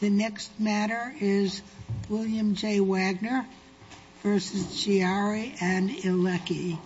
The next matter is William J. Wagner v. Chiari & Ilecki.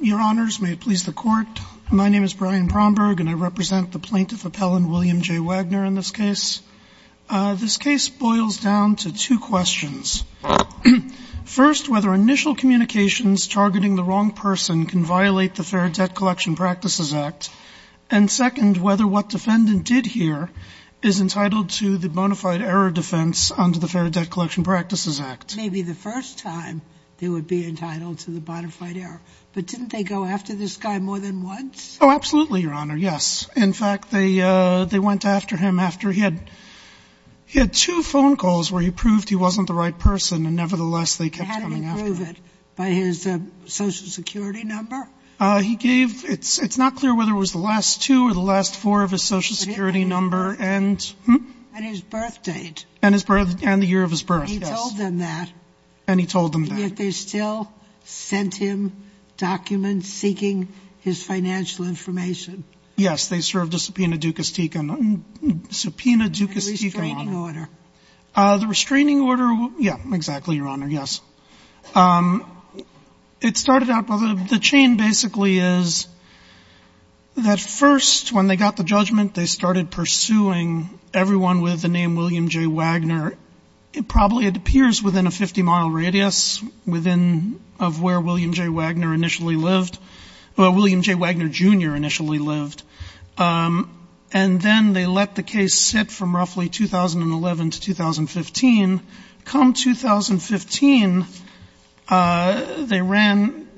Your Honors, may it please the Court, my name is Brian Promberg, and I represent the plaintiff appellant William J. Wagner in this case. This case boils down to two questions. First, whether initial communications targeting the wrong person can violate the Fair Debt Collection Practices Act. And second, whether what defendant did here is entitled to the bona fide error defense under the Fair Debt Collection Practices Act. Maybe the first time they would be entitled to the bona fide error. But didn't they go after this guy more than once? Oh, absolutely, Your Honor, yes. In fact, they went after him after he had two phone calls where he proved he wasn't the right person, and nevertheless, they kept coming after him. How did he prove it? By his Social Security number? He gave, it's not clear whether it was the last two or the last four of his Social Security number and... And his birth date. And the year of his birth, yes. He told them that. And he told them that. And yet they still sent him documents seeking his financial information? Yes. They served a subpoena ducis tecum. Subpoena ducis tecum, Your Honor. And the restraining order? The restraining order, yeah, exactly, Your Honor, yes. It started out, well, the chain basically is that first, when they got the judgment, they started pursuing everyone with the name William J. Wagner. It probably, it appears, within a 50-mile radius within of where William J. Wagner initially lived, where William J. Wagner, Jr. initially lived. And then they let the case sit from roughly 2011 to 2015. Come 2015, they ran,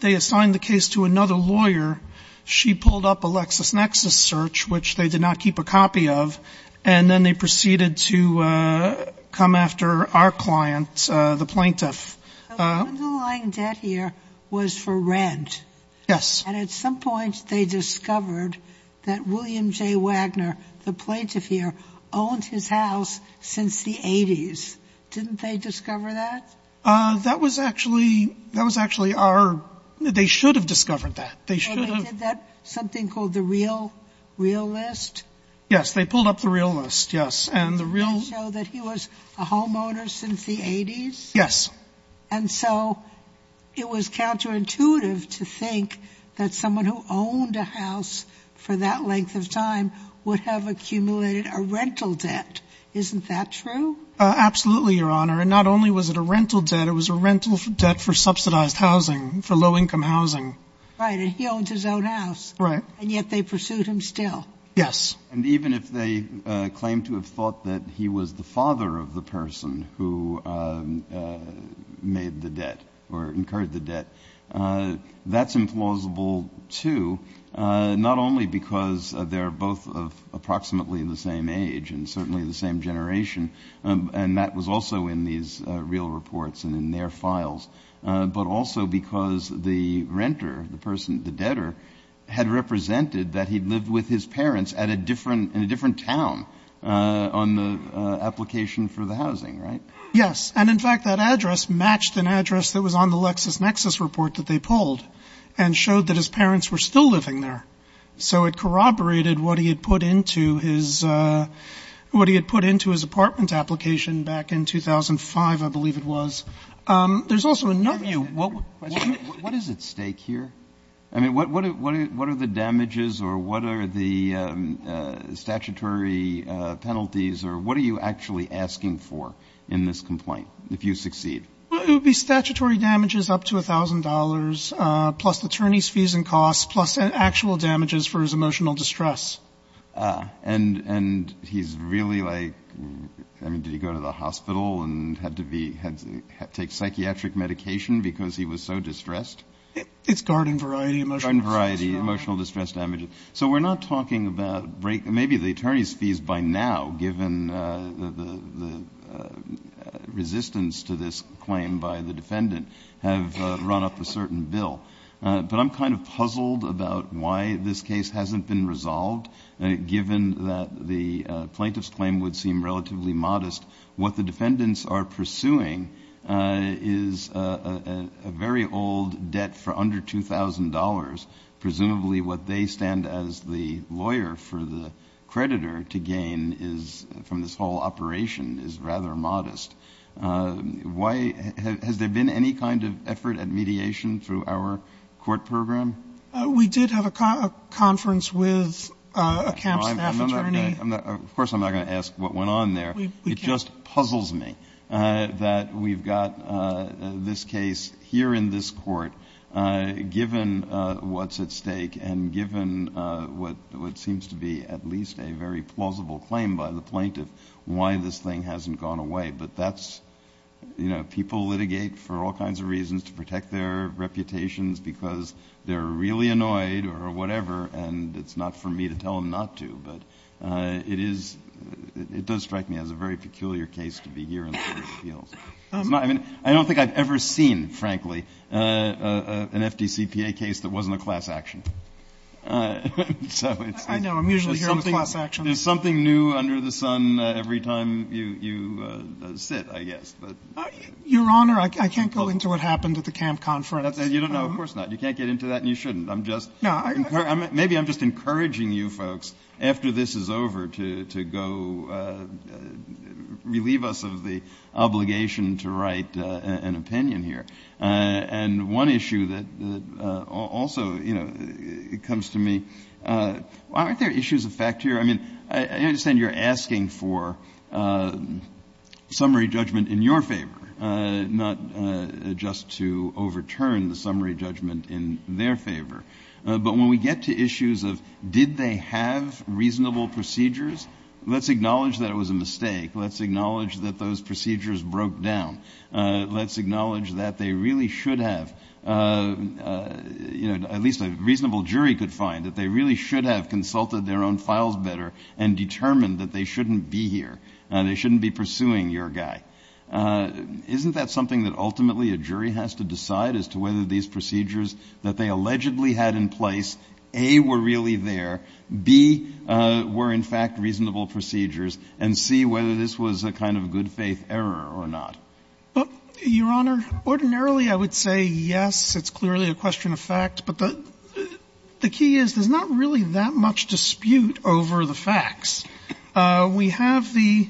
they assigned the case to another lawyer. She pulled up a LexisNexis search, which they did not keep a copy of. And then they proceeded to come after our client, the plaintiff. The underlying debt here was for rent. Yes. And at some point they discovered that William J. Wagner, the plaintiff here, owned his house since the 80s. Didn't they discover that? That was actually, that was actually our, they should have discovered that. They should have. And they did that, something called the real, real list? Yes, they pulled up the real list, yes. And the real To show that he was a homeowner since the 80s? Yes. And so it was counterintuitive to think that someone who owned a house for that length of time would have accumulated a rental debt. Isn't that true? Absolutely, Your Honor. And not only was it a rental debt, it was a rental debt for subsidized housing, for low-income housing. Right. And he owns his own house. Right. And yet they pursued him still. Yes. And even if they claim to have thought that he was the father of the person who made the debt or incurred the debt, that's implausible, too, not only because they're both of approximately the same age and certainly the same generation, and that was also in these real reports and in their files, but also because the renter, the person, the debtor, had represented that he'd lived with his parents at a different, in a different town on the application for the housing, right? Yes. And in fact, that address matched an address that was on the LexisNexis report that they pulled and showed that his parents were still living there. So it corroborated what he had put into his, what he had put into his apartment application back in 2005, I believe it was. There's also another view. What is at stake here? I mean, what are the damages or what are the statutory penalties or what are you actually asking for in this complaint, if you succeed? Well, it would be statutory damages up to $1,000, plus attorney's fees and costs, plus actual damages for his emotional distress. And he's really like, I mean, did he go to the hospital and had to be, had to take psychiatric medication because he was so distressed? It's garden variety emotional distress. Garden variety emotional distress damages. So we're not talking about, maybe the attorney's fees by now, given the resistance to this claim by the defendant, have run up a certain bill. But I'm kind of puzzled about why this case hasn't been resolved, given that the plaintiff's claim would seem relatively modest. What the defendants are pursuing is a very old debt for under $2,000. Presumably what they stand as the lawyer for the creditor to gain is from this whole operation is rather modest. Why, has there been any kind of effort at mediation through our court program? We did have a conference with a camp staff attorney. Of course, I'm not going to ask what went on there. It just puzzles me that we've got this case here in this court, given what's at stake and given what seems to be at least a very plausible claim by the plaintiff, why this thing hasn't gone away. But that's, you know, people litigate for all kinds of reasons to protect their reputations because they're really annoyed or whatever. And it's not for me to tell them not to, but it is, it does strike me as a very peculiar case to be here in the court of appeals. I don't think I've ever seen, frankly, an FDCPA case that wasn't a class action. I know, I'm usually here on class action. There's something new under the sun every time you sit, I guess. Your Honor, I can't go into what happened at the camp conference. You don't know? Of course not. You can't get into that and you shouldn't. I'm just, maybe I'm just encouraging you folks, after this is over, to go, relieve us of the obligation to write an opinion here. And one issue that also, you know, comes to me, aren't there issues of fact here? I mean, I understand you're asking for summary judgment in your favor, not just to overturn the summary judgment in their favor. But when we get to issues of did they have reasonable procedures, let's acknowledge that it was a mistake. Let's acknowledge that those procedures broke down. Let's acknowledge that they really should have, you know, at least a reasonable jury could find, that they really should have consulted their own files better and determined that they shouldn't be here. They shouldn't be pursuing your guy. Isn't that something that ultimately a jury has to decide as to whether these procedures that they allegedly had in place, A, were really there, B, were in fact reasonable procedures, and C, whether this was a kind of good-faith error or not? Well, Your Honor, ordinarily I would say, yes, it's clearly a question of fact. But the key is, there's not really that much dispute over the facts. We have the,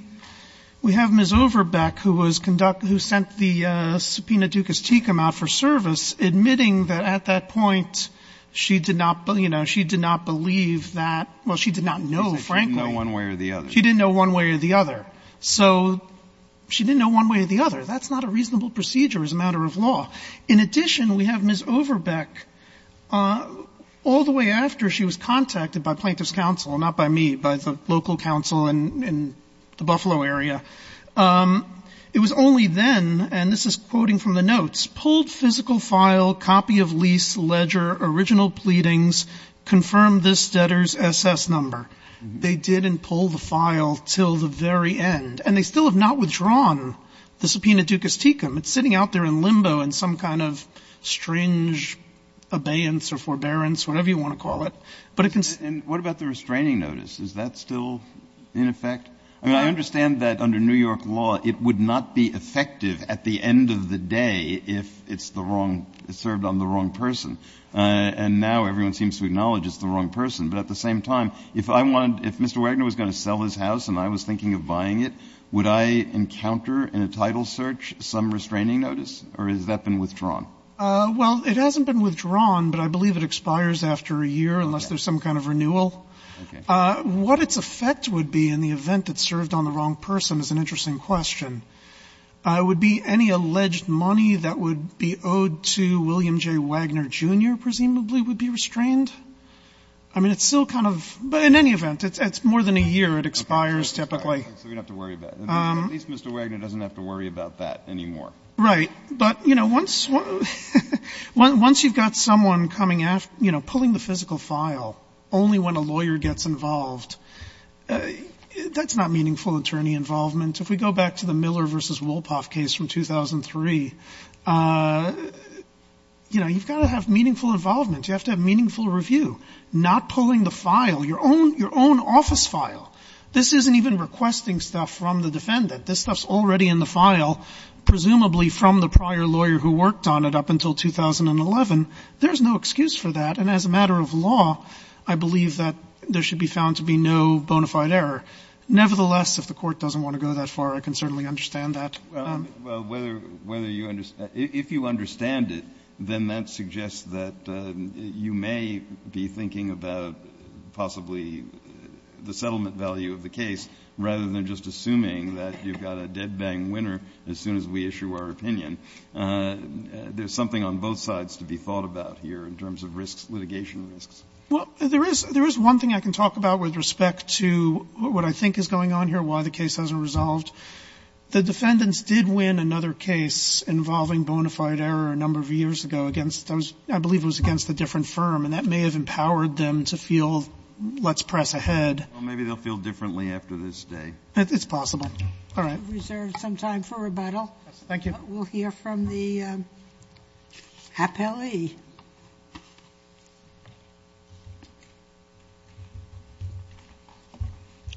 we have Ms. Overbeck, who was conducting, who sent the subpoena Dukas-Tecum out for service, admitting that at that point she did not, you know, she did not believe that, well, she did not know, frankly. She didn't know one way or the other. She didn't know one way or the other. So she didn't know one way or the other. That's not a reasonable procedure as a matter of law. In addition, we have Ms. Overbeck. All the way after she was contacted by plaintiff's counsel, not by me, by the local counsel in the Buffalo area, it was only then, and this is quoting from the notes, pulled physical file, copy of lease, ledger, original pleadings, confirmed this debtor's SS number. They didn't pull the file until the very end. And they still have not withdrawn the subpoena Dukas-Tecum. It's sitting out there in limbo in some kind of strange abeyance or forbearance, whatever you want to call it. But it can be. Breyer. And what about the restraining notice? Is that still in effect? I mean, I understand that under New York law, it would not be effective at the end of the day if it's the wrong, served on the wrong person. And now everyone seems to acknowledge it's the wrong person. But at the same time, if I wanted, if Mr. Wagner was going to sell his house and I was thinking of buying it, would I encounter in a title search some restraining notice or has that been withdrawn? Well, it hasn't been withdrawn, but I believe it expires after a year unless there's some kind of renewal. Okay. What its effect would be in the event it served on the wrong person is an interesting question. It would be any alleged money that would be owed to William J. Wagner, Jr., presumably, would be restrained. I mean, it's still kind of, but in any event, it's more than a year. It expires typically. Okay. So we don't have to worry about it. At least Mr. Wagner doesn't have to worry about that anymore. Right. But, you know, once you've got someone coming after, you know, pulling the physical file only when a lawyer gets involved, that's not meaningful attorney involvement. If we go back to the Miller versus Wolpoff case from 2003, you know, you've got to have meaningful involvement. You have to have meaningful review. Not pulling the file, your own office file. This isn't even requesting stuff from the defendant. This stuff's already in the file, presumably from the prior lawyer who worked on it up until 2011. There's no excuse for that. And as a matter of law, I believe that there should be found to be no bona fide error. Nevertheless, if the court doesn't want to go that far, I can certainly understand that. Well, whether you understand, if you understand it, then that suggests that you may be thinking about possibly the settlement value of the case rather than just assuming that you've got a dead bang winner as soon as we issue our opinion. There's something on both sides to be thought about here in terms of risks, litigation risks. Well, there is one thing I can talk about with respect to what I think is going on here, why the case hasn't resolved. The defendants did win another case involving bona fide error a number of years ago against, I believe it was against a different firm, and that may have empowered them to feel let's press ahead. Well, maybe they'll feel differently after this day. It's possible. All right. We'll reserve some time for rebuttal. Thank you. We'll hear from the appellee.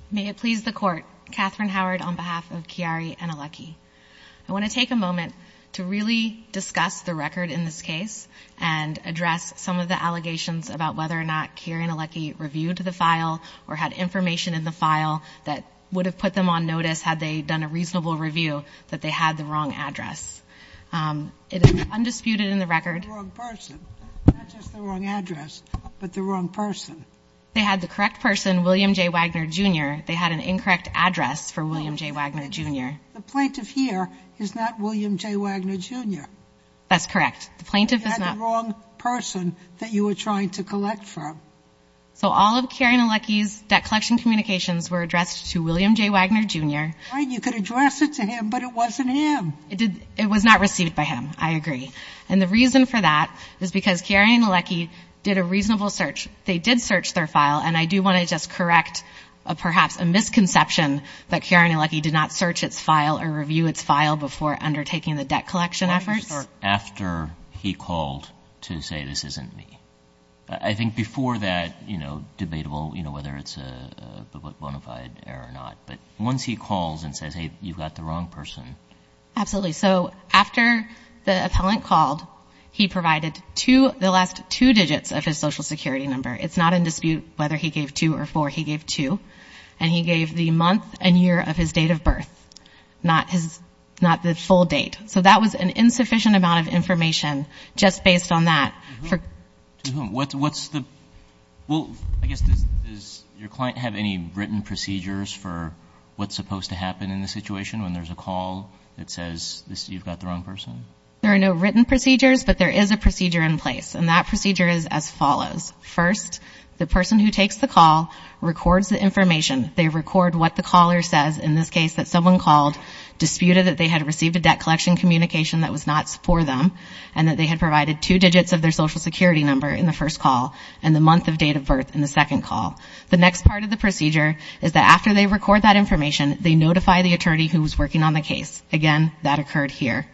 May it please the Court. Catherine Howard on behalf of Chiari Anielecki. I want to take a moment to really discuss the record in this case and address some of the allegations about whether or not Chiari Anielecki reviewed the file or had information in the file that would have put them on notice had they done a reasonable review that they had the wrong address. It is undisputed in the record. They had the wrong person. Not just the wrong address, but the wrong person. They had the correct person, William J. Wagner, Jr. They had an incorrect address for William J. Wagner, Jr. The plaintiff here is not William J. Wagner, Jr. That's correct. The plaintiff is not. They had the wrong person that you were trying to collect from. So all of Chiari Anielecki's debt collection communications were addressed to William J. Wagner, Jr. You could address it to him, but it wasn't him. It was not received by him. I agree. And the reason for that is because Chiari Anielecki did a reasonable search. They did search their file, and I do want to just correct perhaps a misconception that Chiari Anielecki did not search its file or review its file before undertaking the debt collection efforts. After he called to say this isn't me. I think before that, you know, debatable, you know, whether it's a bona fide error or not, but once he calls and says, hey, you've got the wrong person. Absolutely. So after the appellant called, he provided the last two digits of his social security number. It's not in dispute whether he gave two or four. He gave two. And he gave the month and year of his date of birth, not the full date. So that was an insufficient amount of information just based on that. To whom? What's the – well, I guess does your client have any written procedures for what's supposed to happen in the situation when there's a call that says you've got the wrong person? There are no written procedures, but there is a procedure in place, and that procedure is as follows. First, the person who takes the call records the information. They record what the caller says. In this case, that someone called disputed that they had received a debt collection communication that was not for them and that they had provided two digits of their social security number in the first call and the month of date of birth in the second call. The next part of the procedure is that after they record that information, they notify the attorney who was working on the case. Again, that occurred here.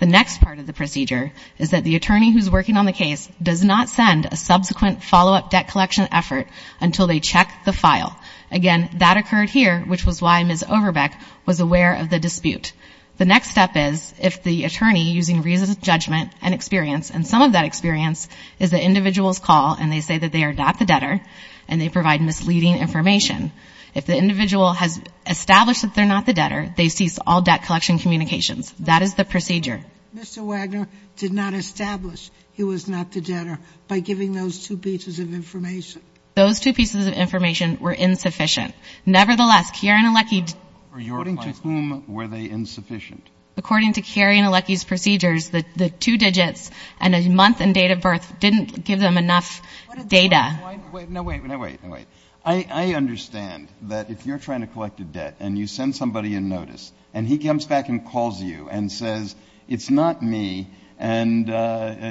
The next part of the procedure is that the attorney who's working on the case does not send a subsequent follow-up debt collection effort until they check the file. Again, that occurred here, which was why Ms. Overbeck was aware of the dispute. The next step is if the attorney, using reasonable judgment and experience – and some of that experience is the individual's call and they say that they are not the debtor and they provide misleading information. If the individual has established that they're not the debtor, they cease all debt collection communications. That is the procedure. Mr. Wagner did not establish he was not the debtor by giving those two pieces of information. Those two pieces of information were insufficient. Nevertheless, Kieran and Leckie – According to whom were they insufficient? According to Kieran and Leckie's procedures, the two digits and the month and date of birth didn't give them enough data. No, wait. No, wait. No, wait. I understand that if you're trying to collect a debt and you send somebody a notice and he comes back and calls you and says it's not me and,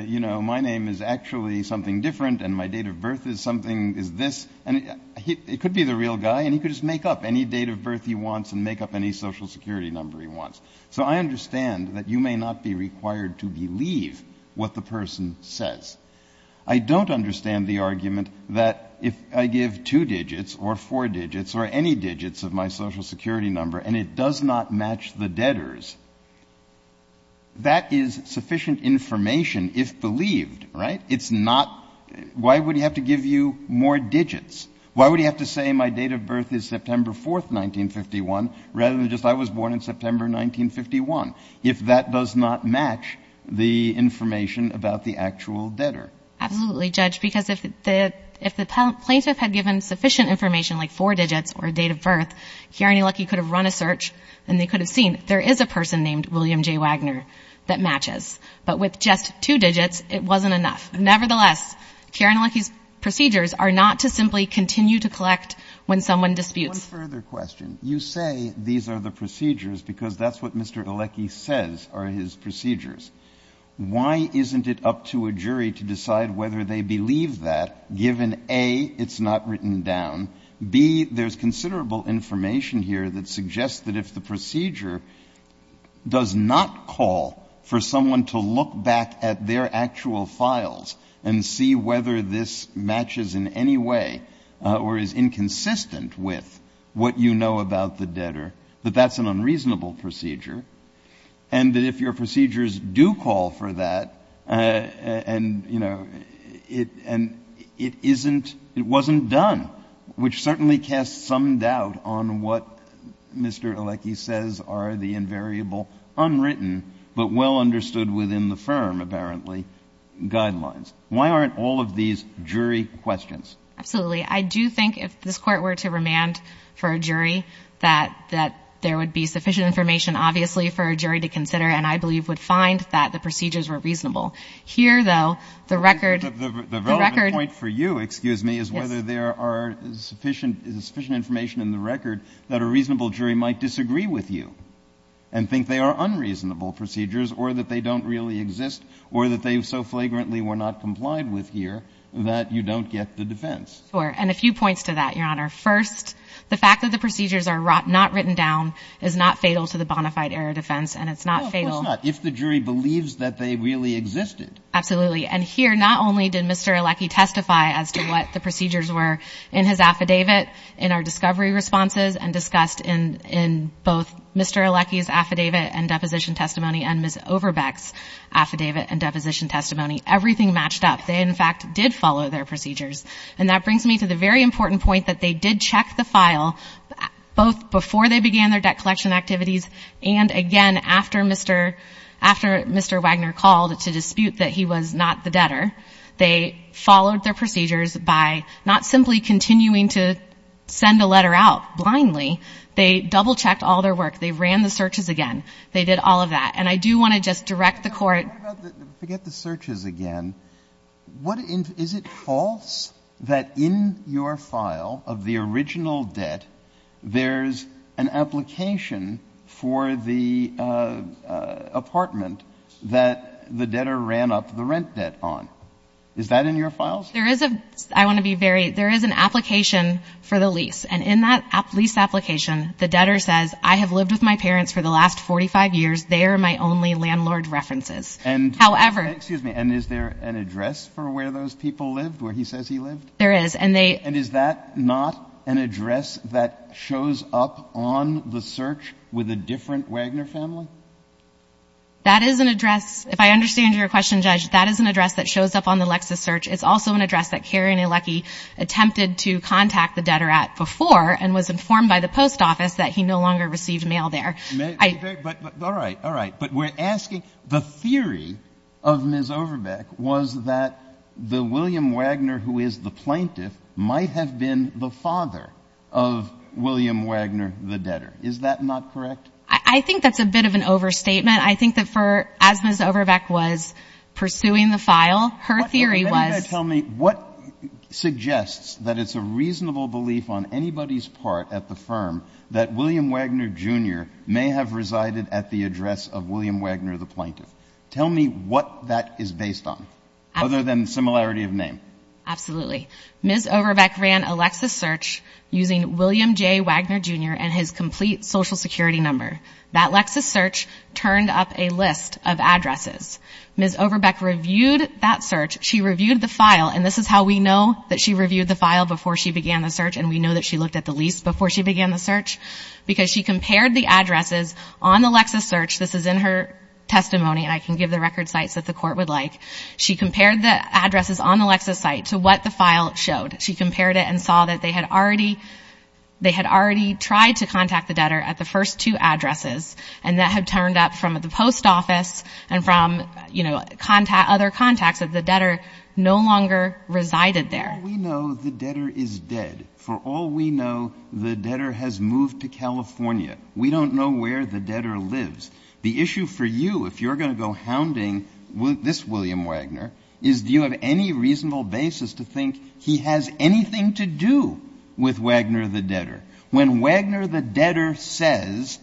you know, my name is actually something different and my date of birth is something – is this – it could be the real guy and he could just make up any date of birth he wants and make up any social security number he wants. So I understand that you may not be required to believe what the person says. I don't understand the argument that if I give two digits or four digits or any digits of my social security number and it does not match the debtor's, that is sufficient information if believed, right? It's not – why would he have to give you more digits? Why would he have to say my date of birth is September 4, 1951 rather than just I was born in September 1951 if that does not match the information about the actual debtor? Absolutely, Judge, because if the plaintiff had given sufficient information like four digits or a date of birth, Kier and Alecki could have run a search and they could have seen there is a person named William J. Wagner that matches, but with just two digits it wasn't enough. Nevertheless, Kier and Alecki's procedures are not to simply continue to collect when someone disputes. One further question. You say these are the procedures because that's what Mr. Alecki says are his procedures. Why isn't it up to a jury to decide whether they believe that given A, it's not written down, B, there's considerable information here that suggests that if the procedure does not call for someone to look back at their actual files and see whether this matches in any way or is inconsistent with what you know about the debtor, that that's an unreasonable procedure and that if your procedures do call for that and, you know, it isn't... it wasn't done, which certainly casts some doubt on what Mr. Alecki says are the invariable, unwritten, but well understood within the firm, apparently, guidelines. Why aren't all of these jury questions? Absolutely. I do think if this Court were to remand for a jury that there would be sufficient information, obviously, for a jury to consider and I believe would find that the procedures were reasonable. Here, though, the record... The relevant point for you, excuse me, is whether there are sufficient information in the record that a reasonable jury might disagree with you and think they are unreasonable procedures or that they don't really exist or that they so flagrantly were not complied with here that you don't get the defense. Sure, and a few points to that, Your Honor. First, the fact that the procedures are not written down is not fatal to the bona fide error defense and it's not fatal... No, of course not, if the jury believes that they really existed. Absolutely. And here, not only did Mr. Alecki testify as to what the procedures were in his affidavit, in our discovery responses and discussed in both Mr. Alecki's affidavit and deposition testimony and Ms. Overbeck's affidavit and deposition testimony, everything matched up. They, in fact, did follow their procedures. And that brings me to the very important point that they did check the file both before they began their debt collection activities and again after Mr. Wagner called to dispute that he was not the debtor. They followed their procedures by not simply continuing to send a letter out blindly. They double-checked all their work. They ran the searches again. They did all of that. And I do want to just direct the Court... Forget the searches again. Is it false that in your file of the original debt there's an application for the apartment that the debtor ran up the rent debt on? Is that in your files? There is a... I want to be very... There is an application for the lease. And in that lease application, the debtor says, I have lived with my parents for the last 45 years. They are my only landlord references. However... Excuse me. And is there an address for where those people lived, where he says he lived? There is, and they... And is that not an address that shows up on the search with a different Wagner family? That is an address... If I understand your question, Judge, that is an address that shows up on the Lexis search. It's also an address that Karen Alecki attempted to contact the debtor at before and was informed by the post office that he no longer received mail there. But... All right, all right. But we're asking... The theory of Ms. Overbeck was that the William Wagner, who is the plaintiff, might have been the father of William Wagner, the debtor. Is that not correct? I think that's a bit of an overstatement. I think that for... As Ms. Overbeck was pursuing the file, her theory was... Tell me what suggests that it's a reasonable belief on anybody's part at the firm that William Wagner Jr. may have resided at the address of William Wagner, the plaintiff. Tell me what that is based on, other than similarity of name. Absolutely. Ms. Overbeck ran a Lexis search using William J. Wagner Jr. and his complete Social Security number. That Lexis search turned up a list of addresses. Ms. Overbeck reviewed that search. She reviewed the file, and this is how we know that she reviewed the file before she began the search, and we know that she looked at the lease before she began the search, because she compared the addresses on the Lexis search. This is in her testimony, and I can give the record sites that the court would like. She compared the addresses on the Lexis site to what the file showed. She compared it and saw that they had already... they had already tried to contact the debtor at the first two addresses, and that had turned up from the post office and from, you know, other contacts that the debtor no longer resided there. For all we know, the debtor is dead. For all we know, the debtor has moved to California. We don't know where the debtor lives. The issue for you, if you're gonna go hounding this William Wagner, is do you have any reasonable basis to think he has anything to do with Wagner the debtor? When Wagner the debtor says,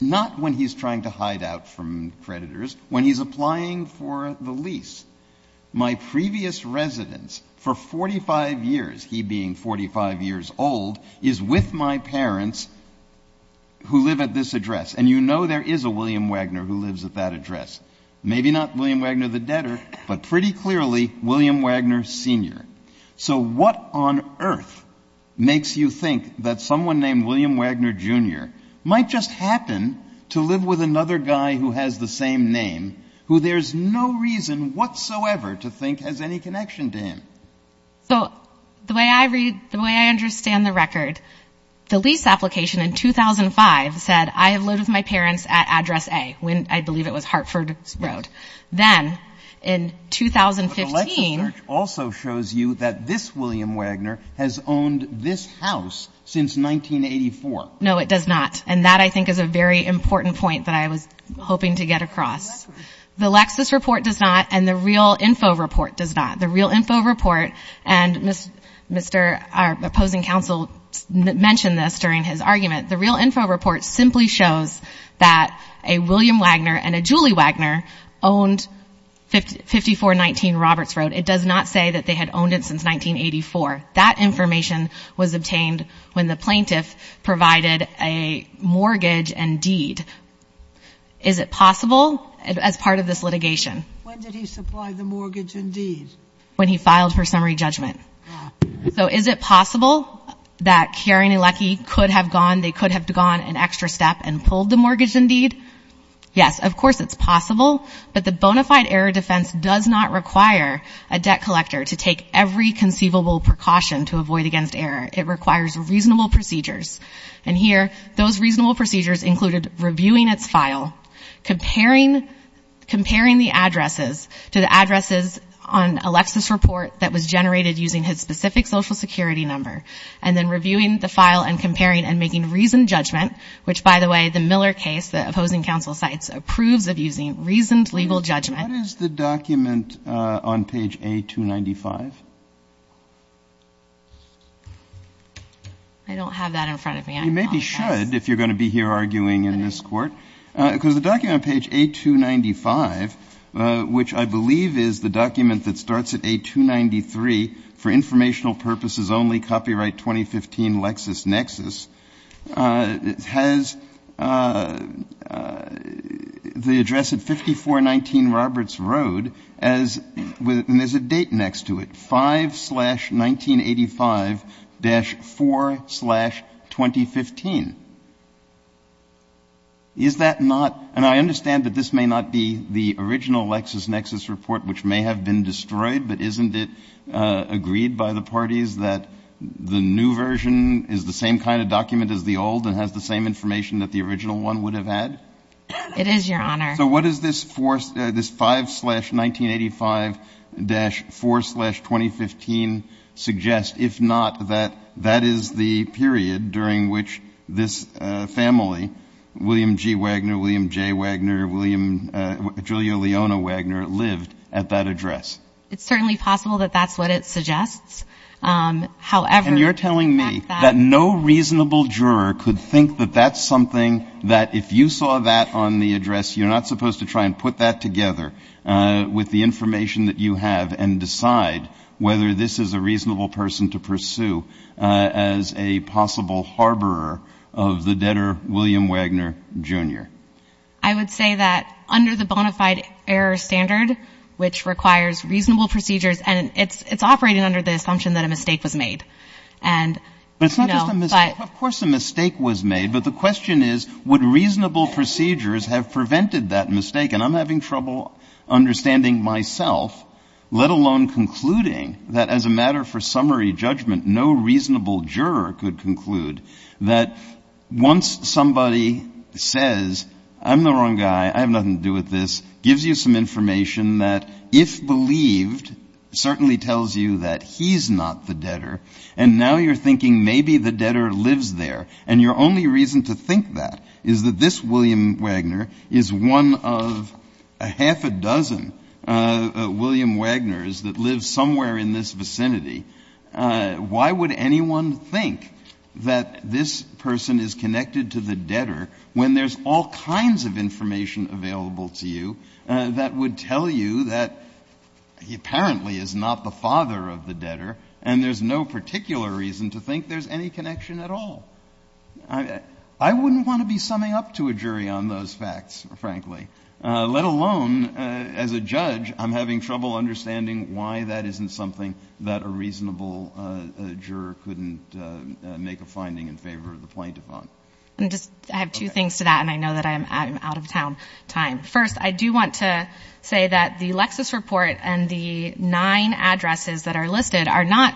not when he's trying to hide out from creditors, when he's applying for the lease, my previous residence for 45 years, he being 45 years old, is with my parents who live at this address. And you know there is a William Wagner who lives at that address. Maybe not William Wagner the debtor, but pretty clearly William Wagner Sr. So what on earth makes you think that someone named William Wagner Jr. might just happen to live with another guy who has the same name, who there's no reason whatsoever to think has any connection to him? So the way I read, the way I understand the record, the lease application in 2005 said, I have lived with my parents at address A, when I believe it was Hartford Road. Then in 2015... But the Lexis search also shows you that this William Wagner has owned this house since 1984. No, it does not. And that I think is a very important point that I was hoping to get across. The Lexis report does not, and the real info report does not. The real info report, and Mr., our opposing counsel mentioned this during his argument, the real info report simply shows that a William Wagner and a Julie Wagner owned 5419 Roberts Road. It does not say that they had owned it since 1984. That information was obtained when the plaintiff provided a mortgage and deed. Is it possible? As part of this litigation. When did he supply the mortgage and deed? When he filed for summary judgment. Ah. So is it possible they could have gone an extra step and pulled the mortgage and deed? Yes, of course it's possible. But the bona fide error defense does not require a debt collector to take every conceivable precaution to avoid against error. It requires reasonable procedures. And here, those reasonable procedures included reviewing its file, comparing the addresses to the addresses on a Lexis report that was generated using his specific Social Security number, and then reviewing the file and comparing and making reasoned judgment, which, by the way, the Miller case, the opposing counsel's site, approves of using reasoned legal judgment. What is the document on page A295? I don't have that in front of me. You maybe should, if you're going to be here arguing in this court. Because the document on page A295, which I believe is the document that starts at A293, for informational purposes only, copyright 2015, LexisNexis, has the address at 5419 Roberts Road and there's a date next to it, 5-1985-4-2015. Is that not... And I understand that this may not be the original LexisNexis report, which may have been destroyed, but isn't it agreed by the parties that the new version is the same kind of document as the old and has the same information that the original one would have had? It is, Your Honor. So what does this 5-1985-4-2015 suggest, if not that that is the period during which this family, William G. Wagner, William J. Wagner, Julia Leona Wagner, lived at that address? It's certainly possible that that's what it suggests. However... And you're telling me that no reasonable juror could think that that's something that if you saw that on the address, you're not supposed to try and put that together with the information that you have and decide whether this is a reasonable person to pursue as a possible harborer of the debtor William Wagner, Jr. I would say that under the bona fide error standard, which requires reasonable procedures and it's operating under the assumption that a mistake was made. And... But it's not just a mistake. Of course a mistake was made, but the question is would reasonable procedures have prevented that mistake? And I'm having trouble understanding myself, let alone concluding that as a matter for summary judgment, no reasonable juror could conclude that once somebody says, I'm the wrong guy, I have nothing to do with this, gives you some information that if believed, certainly tells you that he's not the debtor, and now you're thinking maybe the debtor lives there and your only reason to think that is that this William Wagner is one of a half a dozen William Wagners that live somewhere in this vicinity. Why would anyone think that this person is connected to the debtor when there's all kinds of information available to you that would tell you that he apparently is not the father of the debtor and there's no particular reason to think there's any connection at all? I wouldn't want to be summing up to a jury on those facts, frankly, let alone, as a judge, I'm having trouble understanding why that isn't something that a reasonable juror couldn't make a finding in favor of the plaintiff on. I have two things to that and I know that I'm out of time. First, I do want to say that the Lexis report and the nine addresses that are listed are not,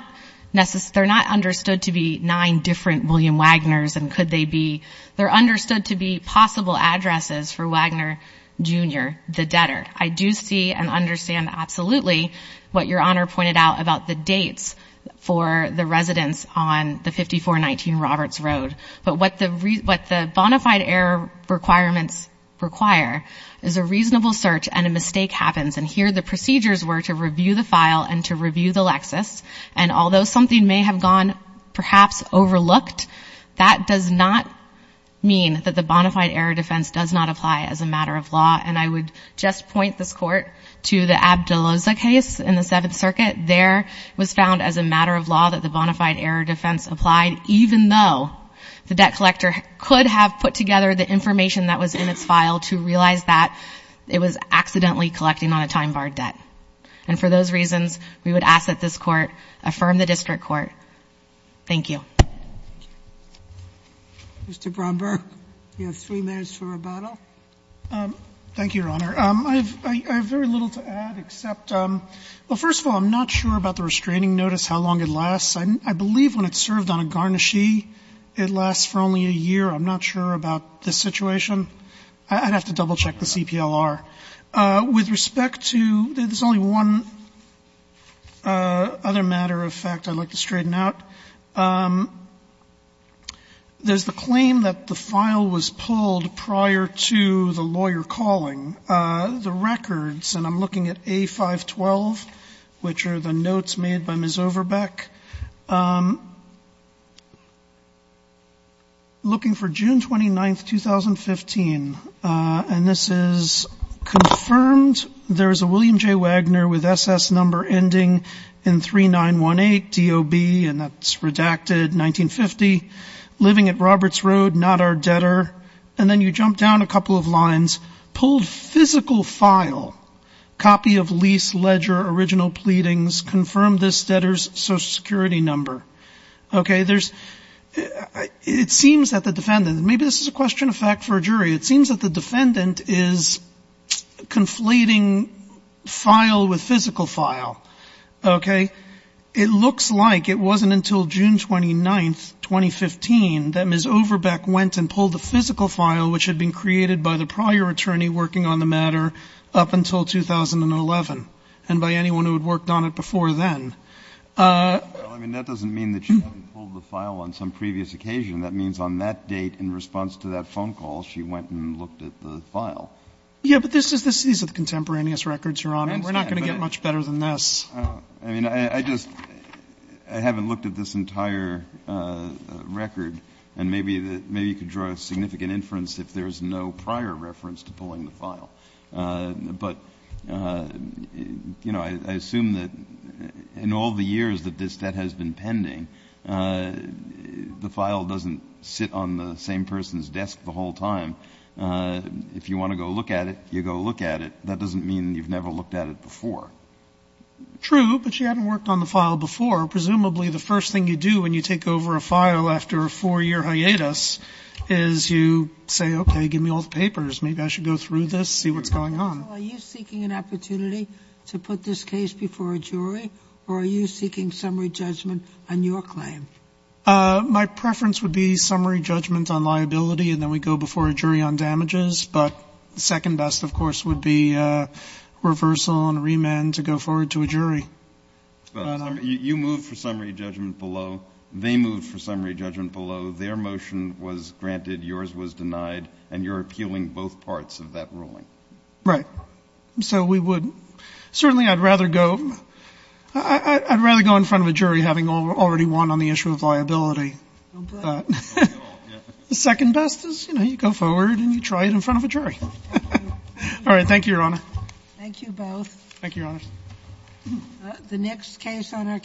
they're not understood to be nine different William Wagners and could they be, they're understood to be possible addresses for Wagner, Jr., the debtor. I do see and understand absolutely what Your Honor pointed out about the dates for the residence on the 5419 Roberts Road. But what the bonafide error requirements require is a reasonable search and a mistake happens and here the procedures were to review the file and to review the Lexis and although something may have gone perhaps overlooked that does not mean that the bonafide error defense does not apply as a matter of law and I would just point this Court to the Abdulloza case in the Seventh Circuit. There was found as a matter of law that the bonafide error defense applied even though the debt collector could have put together the information that was in its file to realize that it was accidentally collecting on a time bar debt and for those reasons we would ask that this Court affirm the district Court. Thank you. Mr. Bromberg you have three minutes for rebuttal. Thank you Your Honor. I have very little to add except well first of all I'm not sure about the restraining notice how long it lasts. I believe when it's served on a garnishee it lasts for only a year. I'm not sure about this situation. I'd have to double check the CPLR. With respect to there's only one other matter of fact I'd like to straighten out there's the claim that the file was pulled prior to the lawyer calling the records and I'm looking at A512 which are the notes made by Ms. Overbeck looking for June 29th 2015 and this is confirmed there's a William J. Wagner with SS number ending in 3918 DOB and that's redacted 1950 living at Roberts Road not our debtor and then you jump down a couple of lines pulled physical file copy of lease ledger original pleadings confirmed this debtor's social security number okay there's it seems that the defendant maybe this is a question of fact for a jury it seems that the defendant is conflating file with physical file okay it looks like it wasn't until June 29th 2015 that Ms. Overbeck went and pulled the physical file which had been created by the prior attorney working on the matter up until 2011 and by anyone who had worked on it before then uh that doesn't mean that she hadn't pulled the file on some previous occasion that means on that date in response to that there's no prior reference to pulling the file uh but you know I assume that in all the years that this debt has been pending uh the file doesn't sit on the same person's desk the whole time uh if you want to go look at it you go look at it that doesn't mean you've never looked at it before true but you haven't worked on the file before presumably the first thing you do when you take over a file after a four-year hiatus is you say okay give me all the papers maybe I should go through this see what's going on are you seeking an opportunity to put this case before a jury or are you seeking summary judgment below they moved for summary judgment below their motion was granted yours was denied and you're appealing both parts of that ruling right so we would certainly I'd rather go in front of a jury having already won on the issue of liability but the second best is you know you go forward and you try it in front of a jury all right thank you your honor the next case on our case is a case on a case on a case on a case